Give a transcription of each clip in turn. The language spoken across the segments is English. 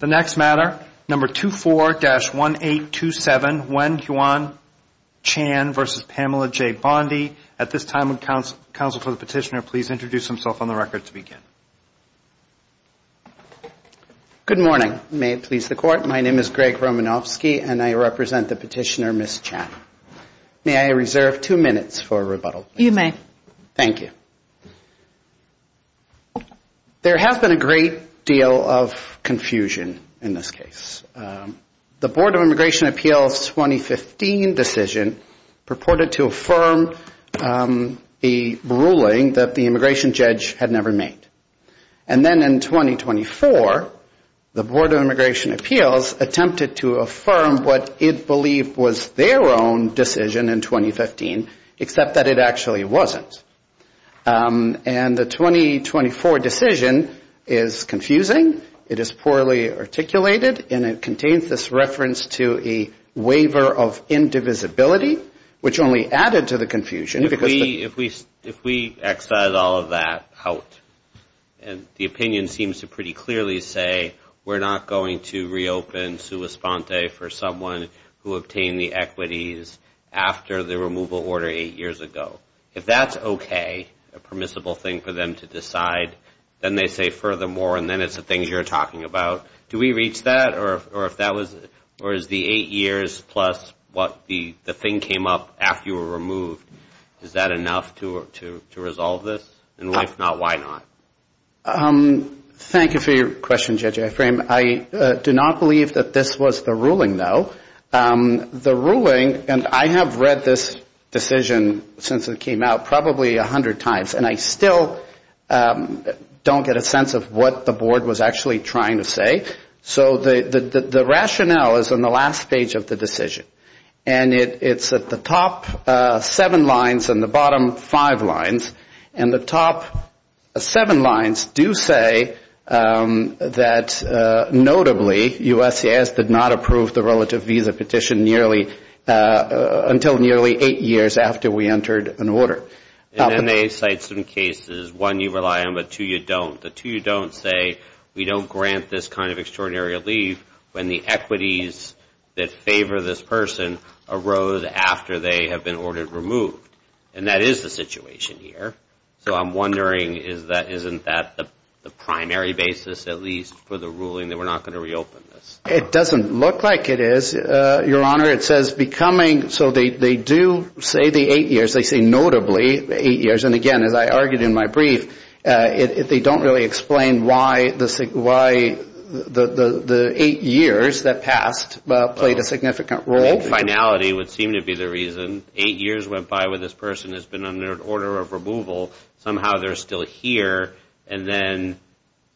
The next matter, No. 24-1827, Wen Juan Chan v. Pamela J. Bondi. At this time, would counsel for the petitioner please introduce himself on the record to begin? Good morning. May it please the Court, my name is Greg Romanofsky and I represent the petitioner, Ms. Chan. May I reserve two minutes for rebuttal? You may. Thank you. There has been a great deal of confusion in this case. The Board of Immigration Appeals' 2015 decision purported to affirm the ruling that the immigration judge had never made. And then in 2024, the Board of Immigration Appeals attempted to affirm what it believed was their own decision in 2015, except that it actually wasn't. And the 2024 decision is confusing, it is poorly articulated, and it contains this reference to a waiver of indivisibility, which only added to the confusion. If we excite all of that out, and the opinion seems to pretty clearly say we're not going to reopen sua sponte for someone who obtained the equities after the removal order eight years ago. If that's okay, a permissible thing for them to decide, then they say furthermore, and then it's the things you're talking about. Do we reach that? Or is the eight years plus what the thing came up after you were removed, is that enough to resolve this? And if not, why not? Thank you for your question, Judge Ephraim. I do not believe that this was the ruling, though. The ruling, and I have read this decision since it came out probably 100 times, and I still don't get a sense of what the board was actually trying to say. So the rationale is on the last page of the decision. And it's at the top seven lines and the bottom five lines. And the top seven lines do say that notably, USCIS did not approve the relative visa petition until nearly eight years after we entered an order. And then they cite some cases, one you rely on but two you don't. The two you don't say we don't grant this kind of extraordinary relief when the equities that favor this person arose after they have been ordered removed. And that is the situation here. So I'm wondering, isn't that the primary basis at least for the ruling that we're not going to reopen this? It doesn't look like it is, Your Honor. It says becoming, so they do say the eight years. They say notably the eight years. And again, as I argued in my brief, they don't really explain why the eight years that passed played a significant role. Finality would seem to be the reason. Eight years went by when this person has been under an order of removal. Somehow they're still here. And then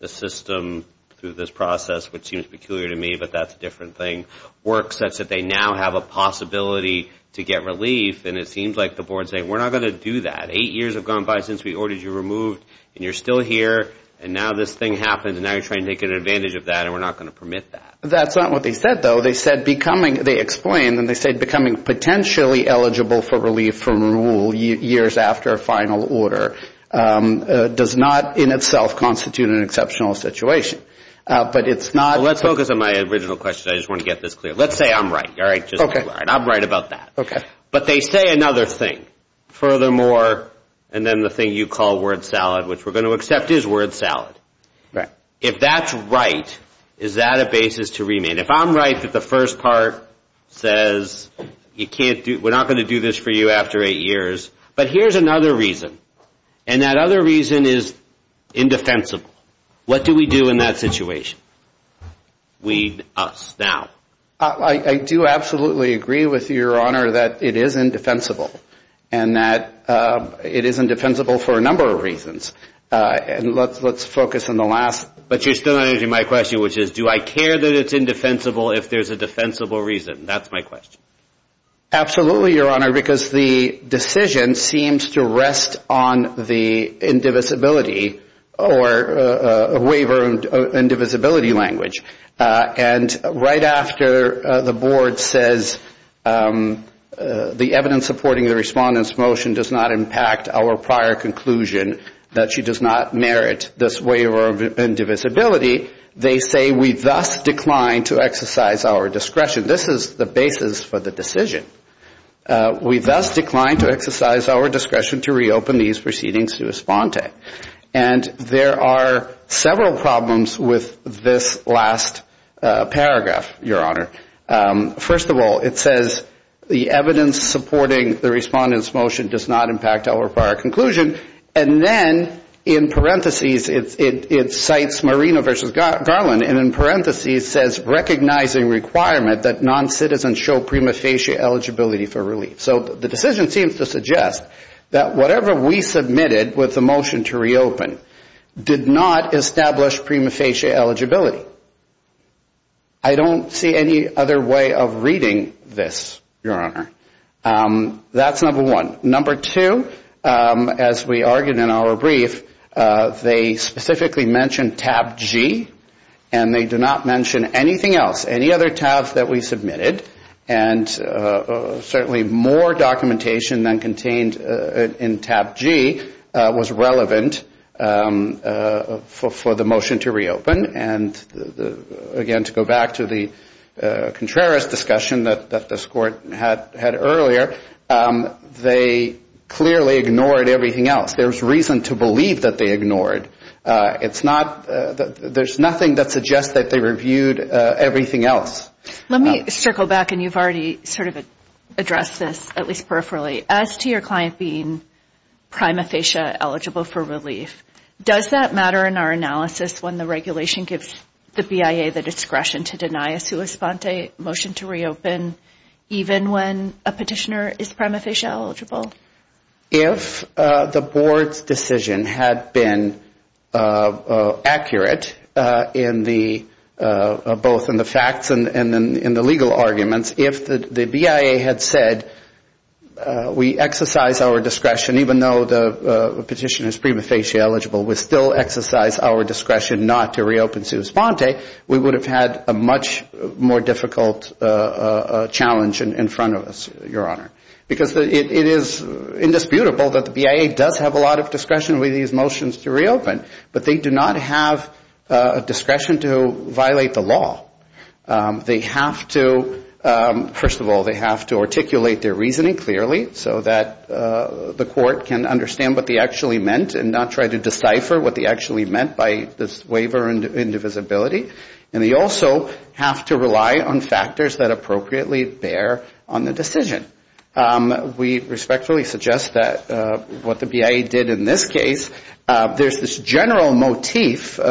the system through this process, which seems peculiar to me but that's a different thing, works such that they now have a possibility to get relief. And it seems like the board is saying we're not going to do that. Eight years have gone by since we ordered you removed and you're still here. And now this thing happens and now you're trying to take advantage of that and we're not going to permit that. That's not what they said, though. They said becoming, they explained and they said becoming potentially eligible for relief from rule years after a final order does not in itself constitute an exceptional situation. But it's not. Let's focus on my original question. I just want to get this clear. Let's say I'm right. I'm right about that. Okay. But they say another thing. Furthermore, and then the thing you call word salad, which we're going to accept is word salad. Right. If that's right, is that a basis to remain? If I'm right that the first part says we're not going to do this for you after eight years, but here's another reason and that other reason is indefensible. What do we do in that situation? We, us, now. I do absolutely agree with your Honor that it is indefensible and that it is indefensible for a number of reasons. Let's focus on the last. But you're still not answering my question, which is do I care that it's indefensible if there's a defensible reason? That's my question. Absolutely, Your Honor, because the decision seems to rest on the indivisibility or waiver indivisibility language. And right after the Board says the evidence supporting the Respondent's motion does not impact our prior conclusion that she does not merit this waiver of indivisibility, they say we thus decline to exercise our discretion. This is the basis for the decision. We thus decline to exercise our discretion to reopen these proceedings to respond to. And there are several problems with this last paragraph, Your Honor. First of all, it says the evidence supporting the Respondent's motion does not impact our prior conclusion. And then in parentheses it cites Marino versus Garland and in parentheses says recognizing requirement that noncitizens show prima facie eligibility for relief. So the decision seems to suggest that whatever we submitted with the motion to reopen did not establish prima facie eligibility. I don't see any other way of reading this, Your Honor. That's number one. Number two, as we argued in our brief, they specifically mention tab G and they do not mention anything else, any other tabs that we submitted. And certainly more documentation than contained in tab G was relevant for the motion to reopen. And again, to go back to the Contreras discussion that this Court had earlier, they clearly ignored everything else. There's reason to believe that they ignored. It's not, there's nothing that suggests that they reviewed everything else. Let me circle back and you've already sort of addressed this at least peripherally. As to your client being prima facie eligible for relief, does that matter in our analysis when the regulation gives the BIA the discretion to deny a sua sponte motion to reopen even when a petitioner is prima facie eligible? If the Board's decision had been accurate in the, both in the facts and in the legal arguments, if the BIA had said we exercise our discretion, even though the petitioner is prima facie eligible, we still exercise our discretion not to reopen sua sponte, we would have had a much more difficult challenge in front of us, Your Honor. Because it is indisputable that the BIA does have a lot of discretion with these motions to reopen, but they do not have discretion to violate the law. They have to, first of all, they have to articulate their reasoning clearly so that the Court can understand what they actually meant and not try to decipher what they actually meant by this waiver and indivisibility. And they also have to rely on factors that appropriately bear on the decision. We respectfully suggest that what the BIA did in this case, there's this general motif, you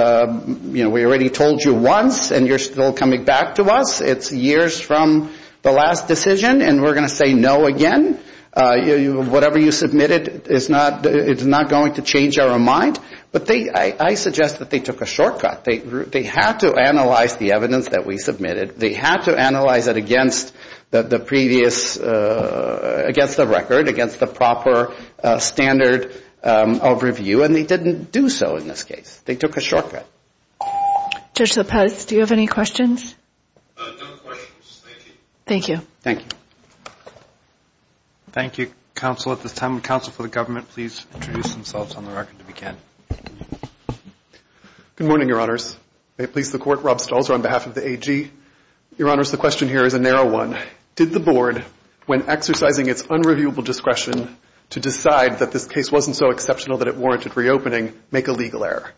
know, we already told you once and you're still coming back to us. It's years from the last decision and we're going to say no again. Whatever you submitted is not going to change our mind. But I suggest that they took a shortcut. They had to analyze the evidence that we submitted. They had to analyze it against the previous, against the record, against the proper standard of review, and they didn't do so in this case. They took a shortcut. Judge Lopez, do you have any questions? No questions. Thank you. Thank you. Thank you, counsel. At this time, would counsel for the government please introduce themselves on the record if you can. Good morning, Your Honors. May it please the Court, Rob Stolzer on behalf of the AG. Your Honors, the question here is a narrow one. Did the Board, when exercising its unreviewable discretion to decide that this case wasn't so exceptional that it warranted reopening, make a legal error?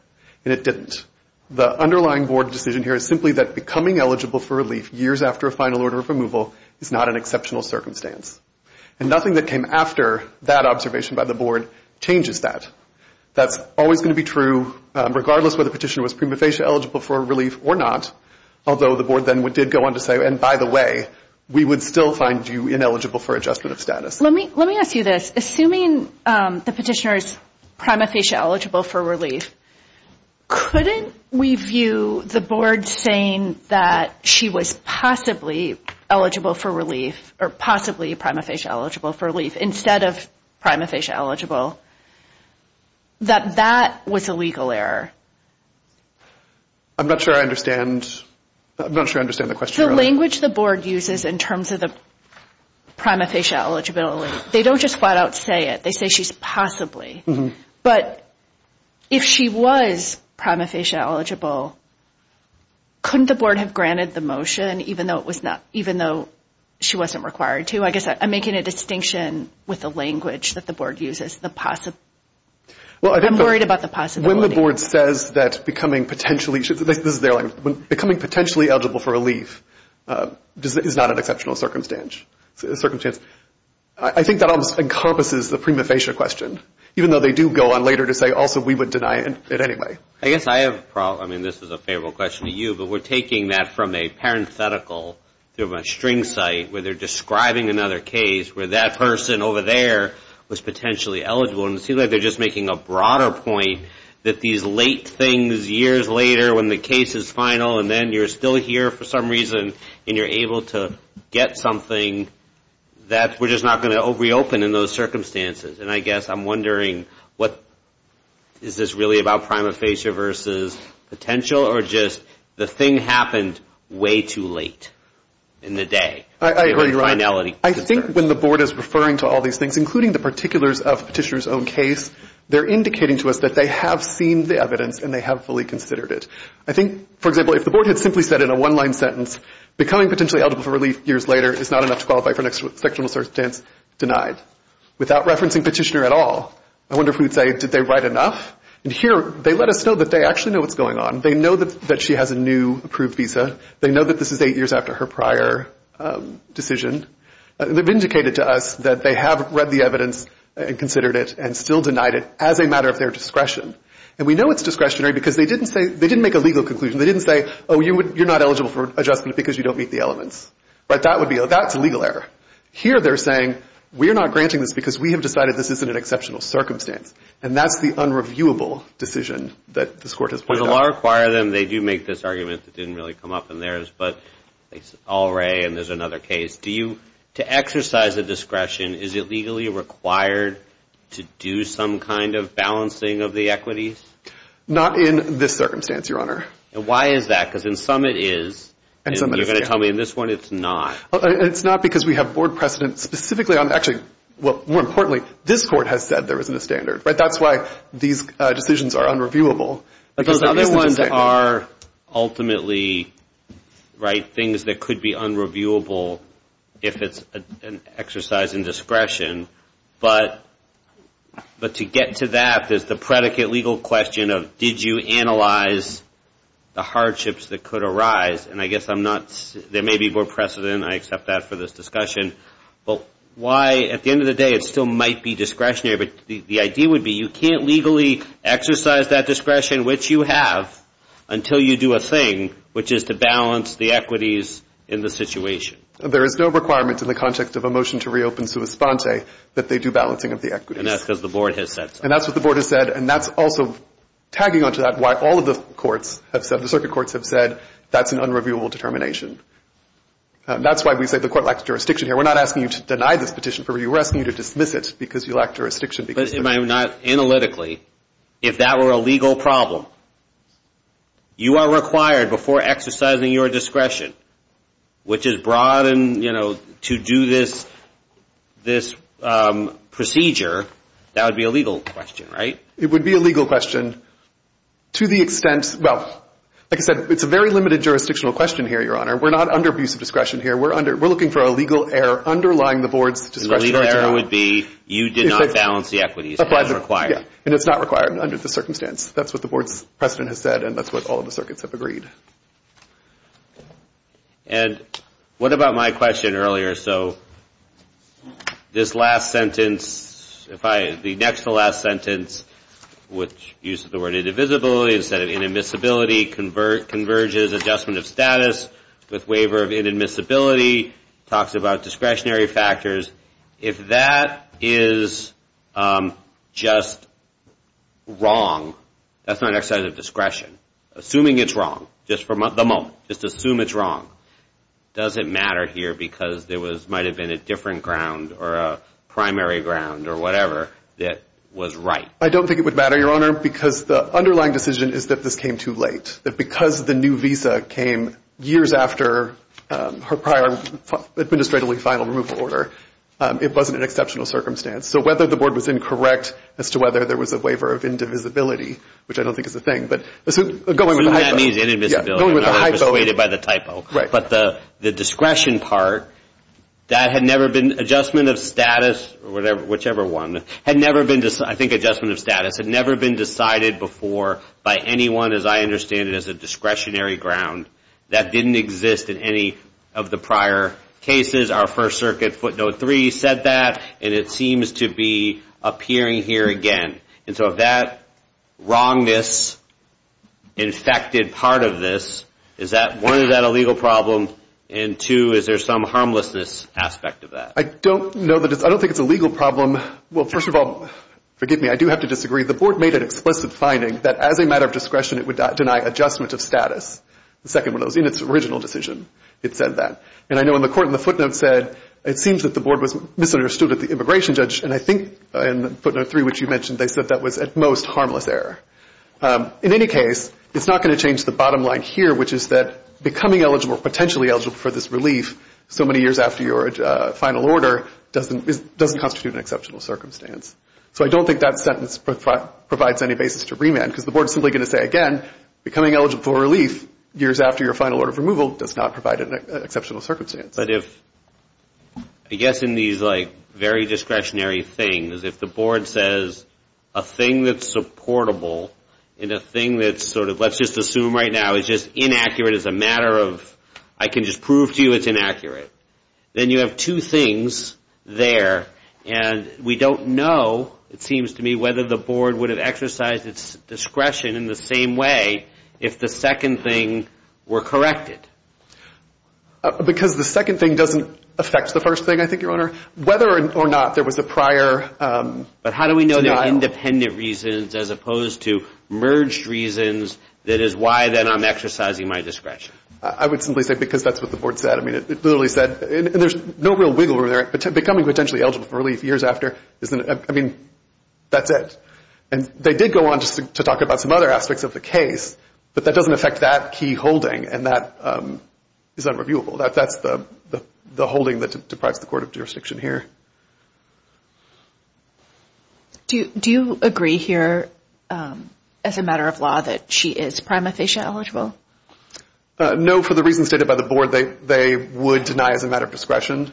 And it didn't. The underlying Board decision here is simply that becoming eligible for relief years after a final order of removal is not an exceptional circumstance. And nothing that came after that observation by the Board changes that. That's always going to be true, regardless whether the petitioner was prima facie eligible for relief or not, although the Board then did go on to say, and by the way, we would still find you ineligible for adjustment of status. Let me ask you this. Assuming the petitioner is prima facie eligible for relief, couldn't we view the Board saying that she was possibly eligible for relief or possibly prima facie eligible for relief instead of prima facie eligible, that that was a legal error? I'm not sure I understand the question. The language the Board uses in terms of the prima facie eligibility, they don't just flat out say it. They say she's possibly. But if she was prima facie eligible, couldn't the Board have granted the motion even though she wasn't required to? I guess I'm making a distinction with the language that the Board uses. I'm worried about the possibility. When the Board says that becoming potentially eligible for relief is not an exceptional circumstance, I think that almost encompasses the prima facie question, even though they do go on later to say also we would deny it anyway. I guess I have a problem, and this is a favorable question to you, but we're taking that from a parenthetical string site where they're describing another case where that person over there was potentially eligible, and it seems like they're just making a broader point that these late things years later when the case is final and then you're still here for some reason and you're able to get something, that we're just not going to reopen in those circumstances. And I guess I'm wondering, is this really about prima facie versus potential or just the thing happened way too late in the day? I think when the Board is referring to all these things, including the particulars of Petitioner's own case, they're indicating to us that they have seen the evidence and they have fully considered it. I think, for example, if the Board had simply said in a one-line sentence, becoming potentially eligible for relief years later is not enough to qualify for an exceptional circumstance, denied. Without referencing Petitioner at all, I wonder if we would say, did they write enough? And here they let us know that they actually know what's going on. They know that she has a new approved visa. They know that this is eight years after her prior decision. They've indicated to us that they have read the evidence and considered it and still denied it as a matter of their discretion. And we know it's discretionary because they didn't make a legal conclusion. They didn't say, oh, you're not eligible for adjustment because you don't meet the elements. That's a legal error. Here they're saying, we're not granting this because we have decided this isn't an exceptional circumstance. And that's the unreviewable decision that this Court has pointed out. If the lawyers of law require them, they do make this argument that didn't really come up in theirs. But they say, all right, and there's another case. To exercise a discretion, is it legally required to do some kind of balancing of the equities? Not in this circumstance, Your Honor. And why is that? Because in some it is, and you're going to tell me in this one it's not. It's not because we have Board precedent specifically on it. Actually, more importantly, this Court has said there isn't a standard. That's why these decisions are unreviewable. But those other ones are ultimately, right, things that could be unreviewable if it's an exercise in discretion. But to get to that, there's the predicate legal question of, did you analyze the hardships that could arise? And I guess I'm not – there may be Board precedent. I accept that for this discussion. But why, at the end of the day, it still might be discretionary. But the idea would be you can't legally exercise that discretion, which you have, until you do a thing, which is to balance the equities in the situation. There is no requirement in the context of a motion to reopen sua sponte that they do balancing of the equities. And that's because the Board has said so. And that's what the Board has said. And that's also, tagging onto that, why all of the courts have said – the circuit courts have said that's an unreviewable determination. That's why we say the Court lacks jurisdiction here. We're not asking you to deny this petition for review. We're asking you to dismiss it because you lack jurisdiction. But am I not – analytically, if that were a legal problem, you are required, before exercising your discretion, which is broad and, you know, to do this procedure, that would be a legal question, right? It would be a legal question to the extent – well, like I said, it's a very limited jurisdictional question here, Your Honor. We're not under abuse of discretion here. We're looking for a legal error underlying the Board's discretion. The legal error would be you did not balance the equities. It's not required. And it's not required under the circumstance. That's what the Board's precedent has said, and that's what all of the circuits have agreed. And what about my question earlier? So this last sentence, if I – the next to last sentence, which uses the word indivisibility instead of inadmissibility, converges adjustment of status with waiver of inadmissibility, talks about discretionary factors, if that is just wrong, that's not an exercise of discretion, assuming it's wrong, just for the moment, just assume it's wrong, does it matter here because there might have been a different ground or a primary ground or whatever that was right? I don't think it would matter, Your Honor, because the underlying decision is that this came too late, that because the new visa came years after her prior administratively final removal order, it wasn't an exceptional circumstance. So whether the Board was incorrect as to whether there was a waiver of indivisibility, which I don't think is a thing, but going with the hypo. So that means inadmissibility. Yeah, going with the hypo. I'm persuaded by the typo. Right. But the discretion part, that had never been adjustment of status, whichever one, had never been – I think adjustment of status had never been decided before by anyone, as I understand it, as a discretionary ground. That didn't exist in any of the prior cases. Our First Circuit footnote three said that, and it seems to be appearing here again. And so if that wrongness infected part of this, is that – one, is that a legal problem? And two, is there some harmlessness aspect of that? I don't know that it's – I don't think it's a legal problem. Well, first of all, forgive me, I do have to disagree. The Board made an explicit finding that as a matter of discretion, it would deny adjustment of status. The second one was in its original decision, it said that. And I know in the court in the footnote said, it seems that the Board was misunderstood at the immigration judge, and I think in footnote three, which you mentioned, they said that was at most harmless error. In any case, it's not going to change the bottom line here, which is that becoming eligible or potentially eligible for this relief so many years after your final order doesn't constitute an exceptional circumstance. So I don't think that sentence provides any basis to remand, because the Board is simply going to say, again, becoming eligible for relief years after your final order of removal does not provide an exceptional circumstance. But if – I guess in these, like, very discretionary things, if the Board says a thing that's supportable and a thing that's sort of – let's just assume right now is just inaccurate as a matter of – then you have two things there. And we don't know, it seems to me, whether the Board would have exercised its discretion in the same way if the second thing were corrected. Because the second thing doesn't affect the first thing, I think, Your Honor. Whether or not there was a prior denial. But how do we know they're independent reasons as opposed to merged reasons that is why then I'm exercising my discretion? I would simply say because that's what the Board said. I mean, it literally said – and there's no real wiggle room there. Becoming potentially eligible for relief years after isn't – I mean, that's it. And they did go on to talk about some other aspects of the case, but that doesn't affect that key holding, and that is unreviewable. That's the holding that deprives the court of jurisdiction here. Do you agree here as a matter of law that she is prima facie eligible? No. For the reasons stated by the Board, they would deny as a matter of discretion.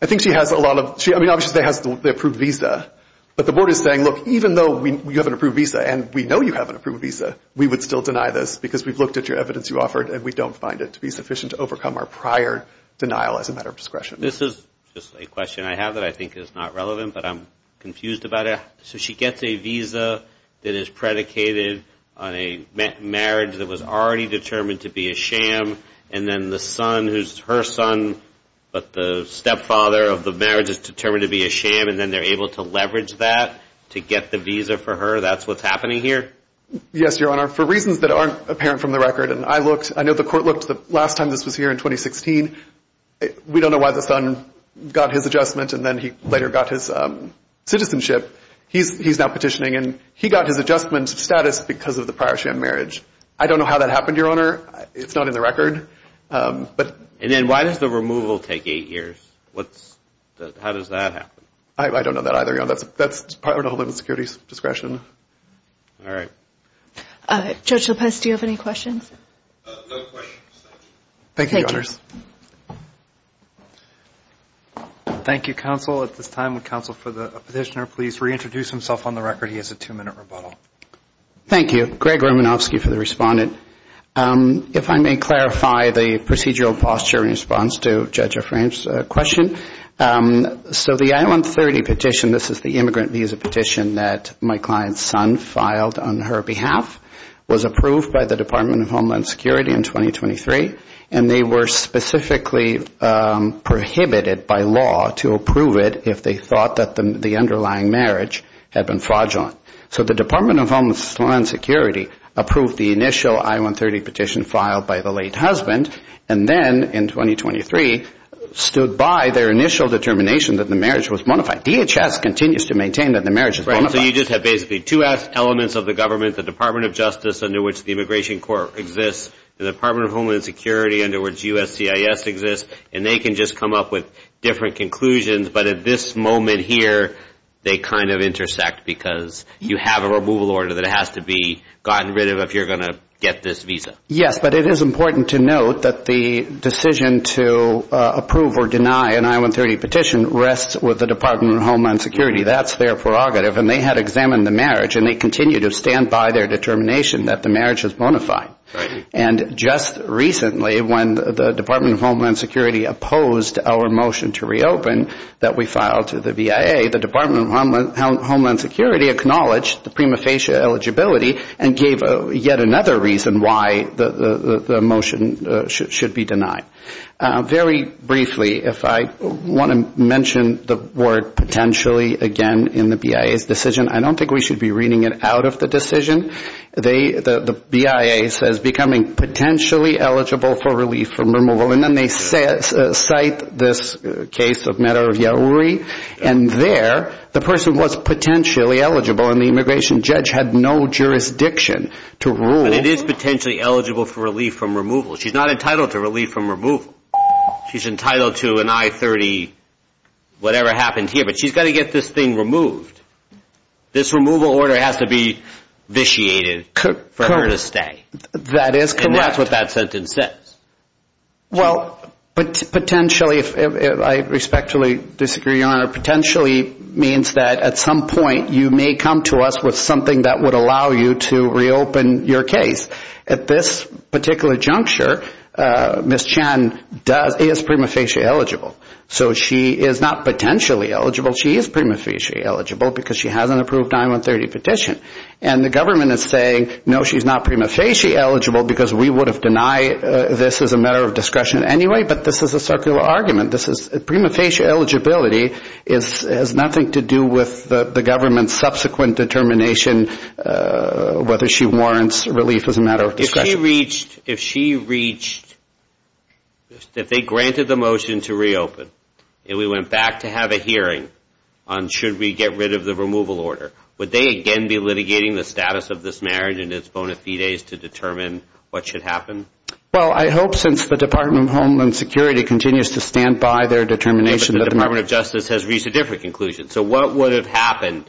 I think she has a lot of – I mean, obviously, she has the approved visa. But the Board is saying, look, even though you have an approved visa and we know you have an approved visa, we would still deny this because we've looked at your evidence you offered and we don't find it to be sufficient to overcome our prior denial as a matter of discretion. This is just a question I have that I think is not relevant, but I'm confused about it. So she gets a visa that is predicated on a marriage that was already determined to be a sham, and then the son who's her son, but the stepfather of the marriage is determined to be a sham, and then they're able to leverage that to get the visa for her? That's what's happening here? Yes, Your Honor. For reasons that aren't apparent from the record, and I looked – I know the court looked the last time this was here in 2016. We don't know why the son got his adjustment and then he later got his citizenship. He's now petitioning, and he got his adjustment status because of the prior sham marriage. I don't know how that happened, Your Honor. It's not in the record. And then why does the removal take eight years? How does that happen? I don't know that either, Your Honor. That's part of the Homeland Security's discretion. All right. Judge Lopez, do you have any questions? No questions. Thank you, Your Honors. Thank you, counsel. At this time, would counsel for the petitioner please reintroduce himself on the record? He has a two-minute rebuttal. Thank you. Greg Romanofsky for the respondent. If I may clarify the procedural posture in response to Judge O'Frank's question. So the I-130 petition, this is the immigrant visa petition that my client's son filed on her behalf, was approved by the Department of Homeland Security in 2023, and they were specifically prohibited by law to approve it if they thought that the underlying marriage had been fraudulent. So the Department of Homeland Security approved the initial I-130 petition filed by the late husband and then, in 2023, stood by their initial determination that the marriage was bona fide. DHS continues to maintain that the marriage is bona fide. So you just have basically two elements of the government, the Department of Justice under which the Immigration Court exists, the Department of Homeland Security under which USCIS exists, and they can just come up with different conclusions. But at this moment here, they kind of intersect because you have a removal order that has to be gotten rid of if you're going to get this visa. Yes, but it is important to note that the decision to approve or deny an I-130 petition rests with the Department of Homeland Security. That's their prerogative, and they had examined the marriage, and they continue to stand by their determination that the marriage is bona fide. And just recently, when the Department of Homeland Security opposed our motion to reopen that we filed to the VIA, the Department of Homeland Security acknowledged the prima facie eligibility and gave yet another reason why the motion should be denied. Very briefly, if I want to mention the word potentially again in the BIA's decision, I don't think we should be reading it out of the decision. The BIA says becoming potentially eligible for relief from removal, and then they cite this case of matter of Yahouri, and there the person was potentially eligible, and the immigration judge had no jurisdiction to rule. But it is potentially eligible for relief from removal. She's not entitled to relief from removal. She's entitled to an I-30 whatever happened here, but she's got to get this thing removed. This removal order has to be vitiated for her to stay. That is correct. And that's what that sentence says. Well, potentially, I respectfully disagree, Your Honor. Potentially means that at some point you may come to us with something that would allow you to reopen your case. At this particular juncture, Ms. Chan is prima facie eligible. So she is not potentially eligible. She is prima facie eligible because she has an approved I-130 petition. And the government is saying, no, she's not prima facie eligible because we would have denied this as a matter of discretion anyway, but this is a circular argument. Prima facie eligibility has nothing to do with the government's subsequent determination whether she warrants relief as a matter of discretion. If she reached, if they granted the motion to reopen, and we went back to have a hearing on should we get rid of the removal order, would they again be litigating the status of this marriage and its bona fides to determine what should happen? Well, I hope since the Department of Homeland Security continues to stand by their determination. But the Department of Justice has reached a different conclusion. So what would have happened?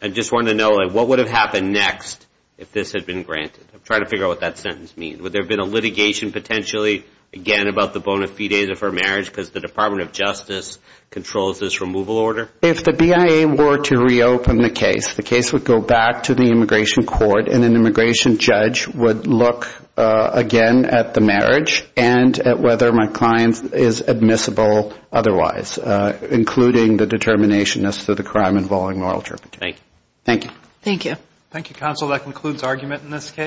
I just want to know what would have happened next if this had been granted? I'm trying to figure out what that sentence means. Would there have been a litigation potentially again about the bona fides of her marriage because the Department of Justice controls this removal order? If the BIA were to reopen the case, the case would go back to the immigration court, and an immigration judge would look again at the marriage and at whether my client is admissible otherwise, including the determination as to the crime involving moral turpitude. Thank you. Thank you. Thank you, counsel. That concludes argument in this case.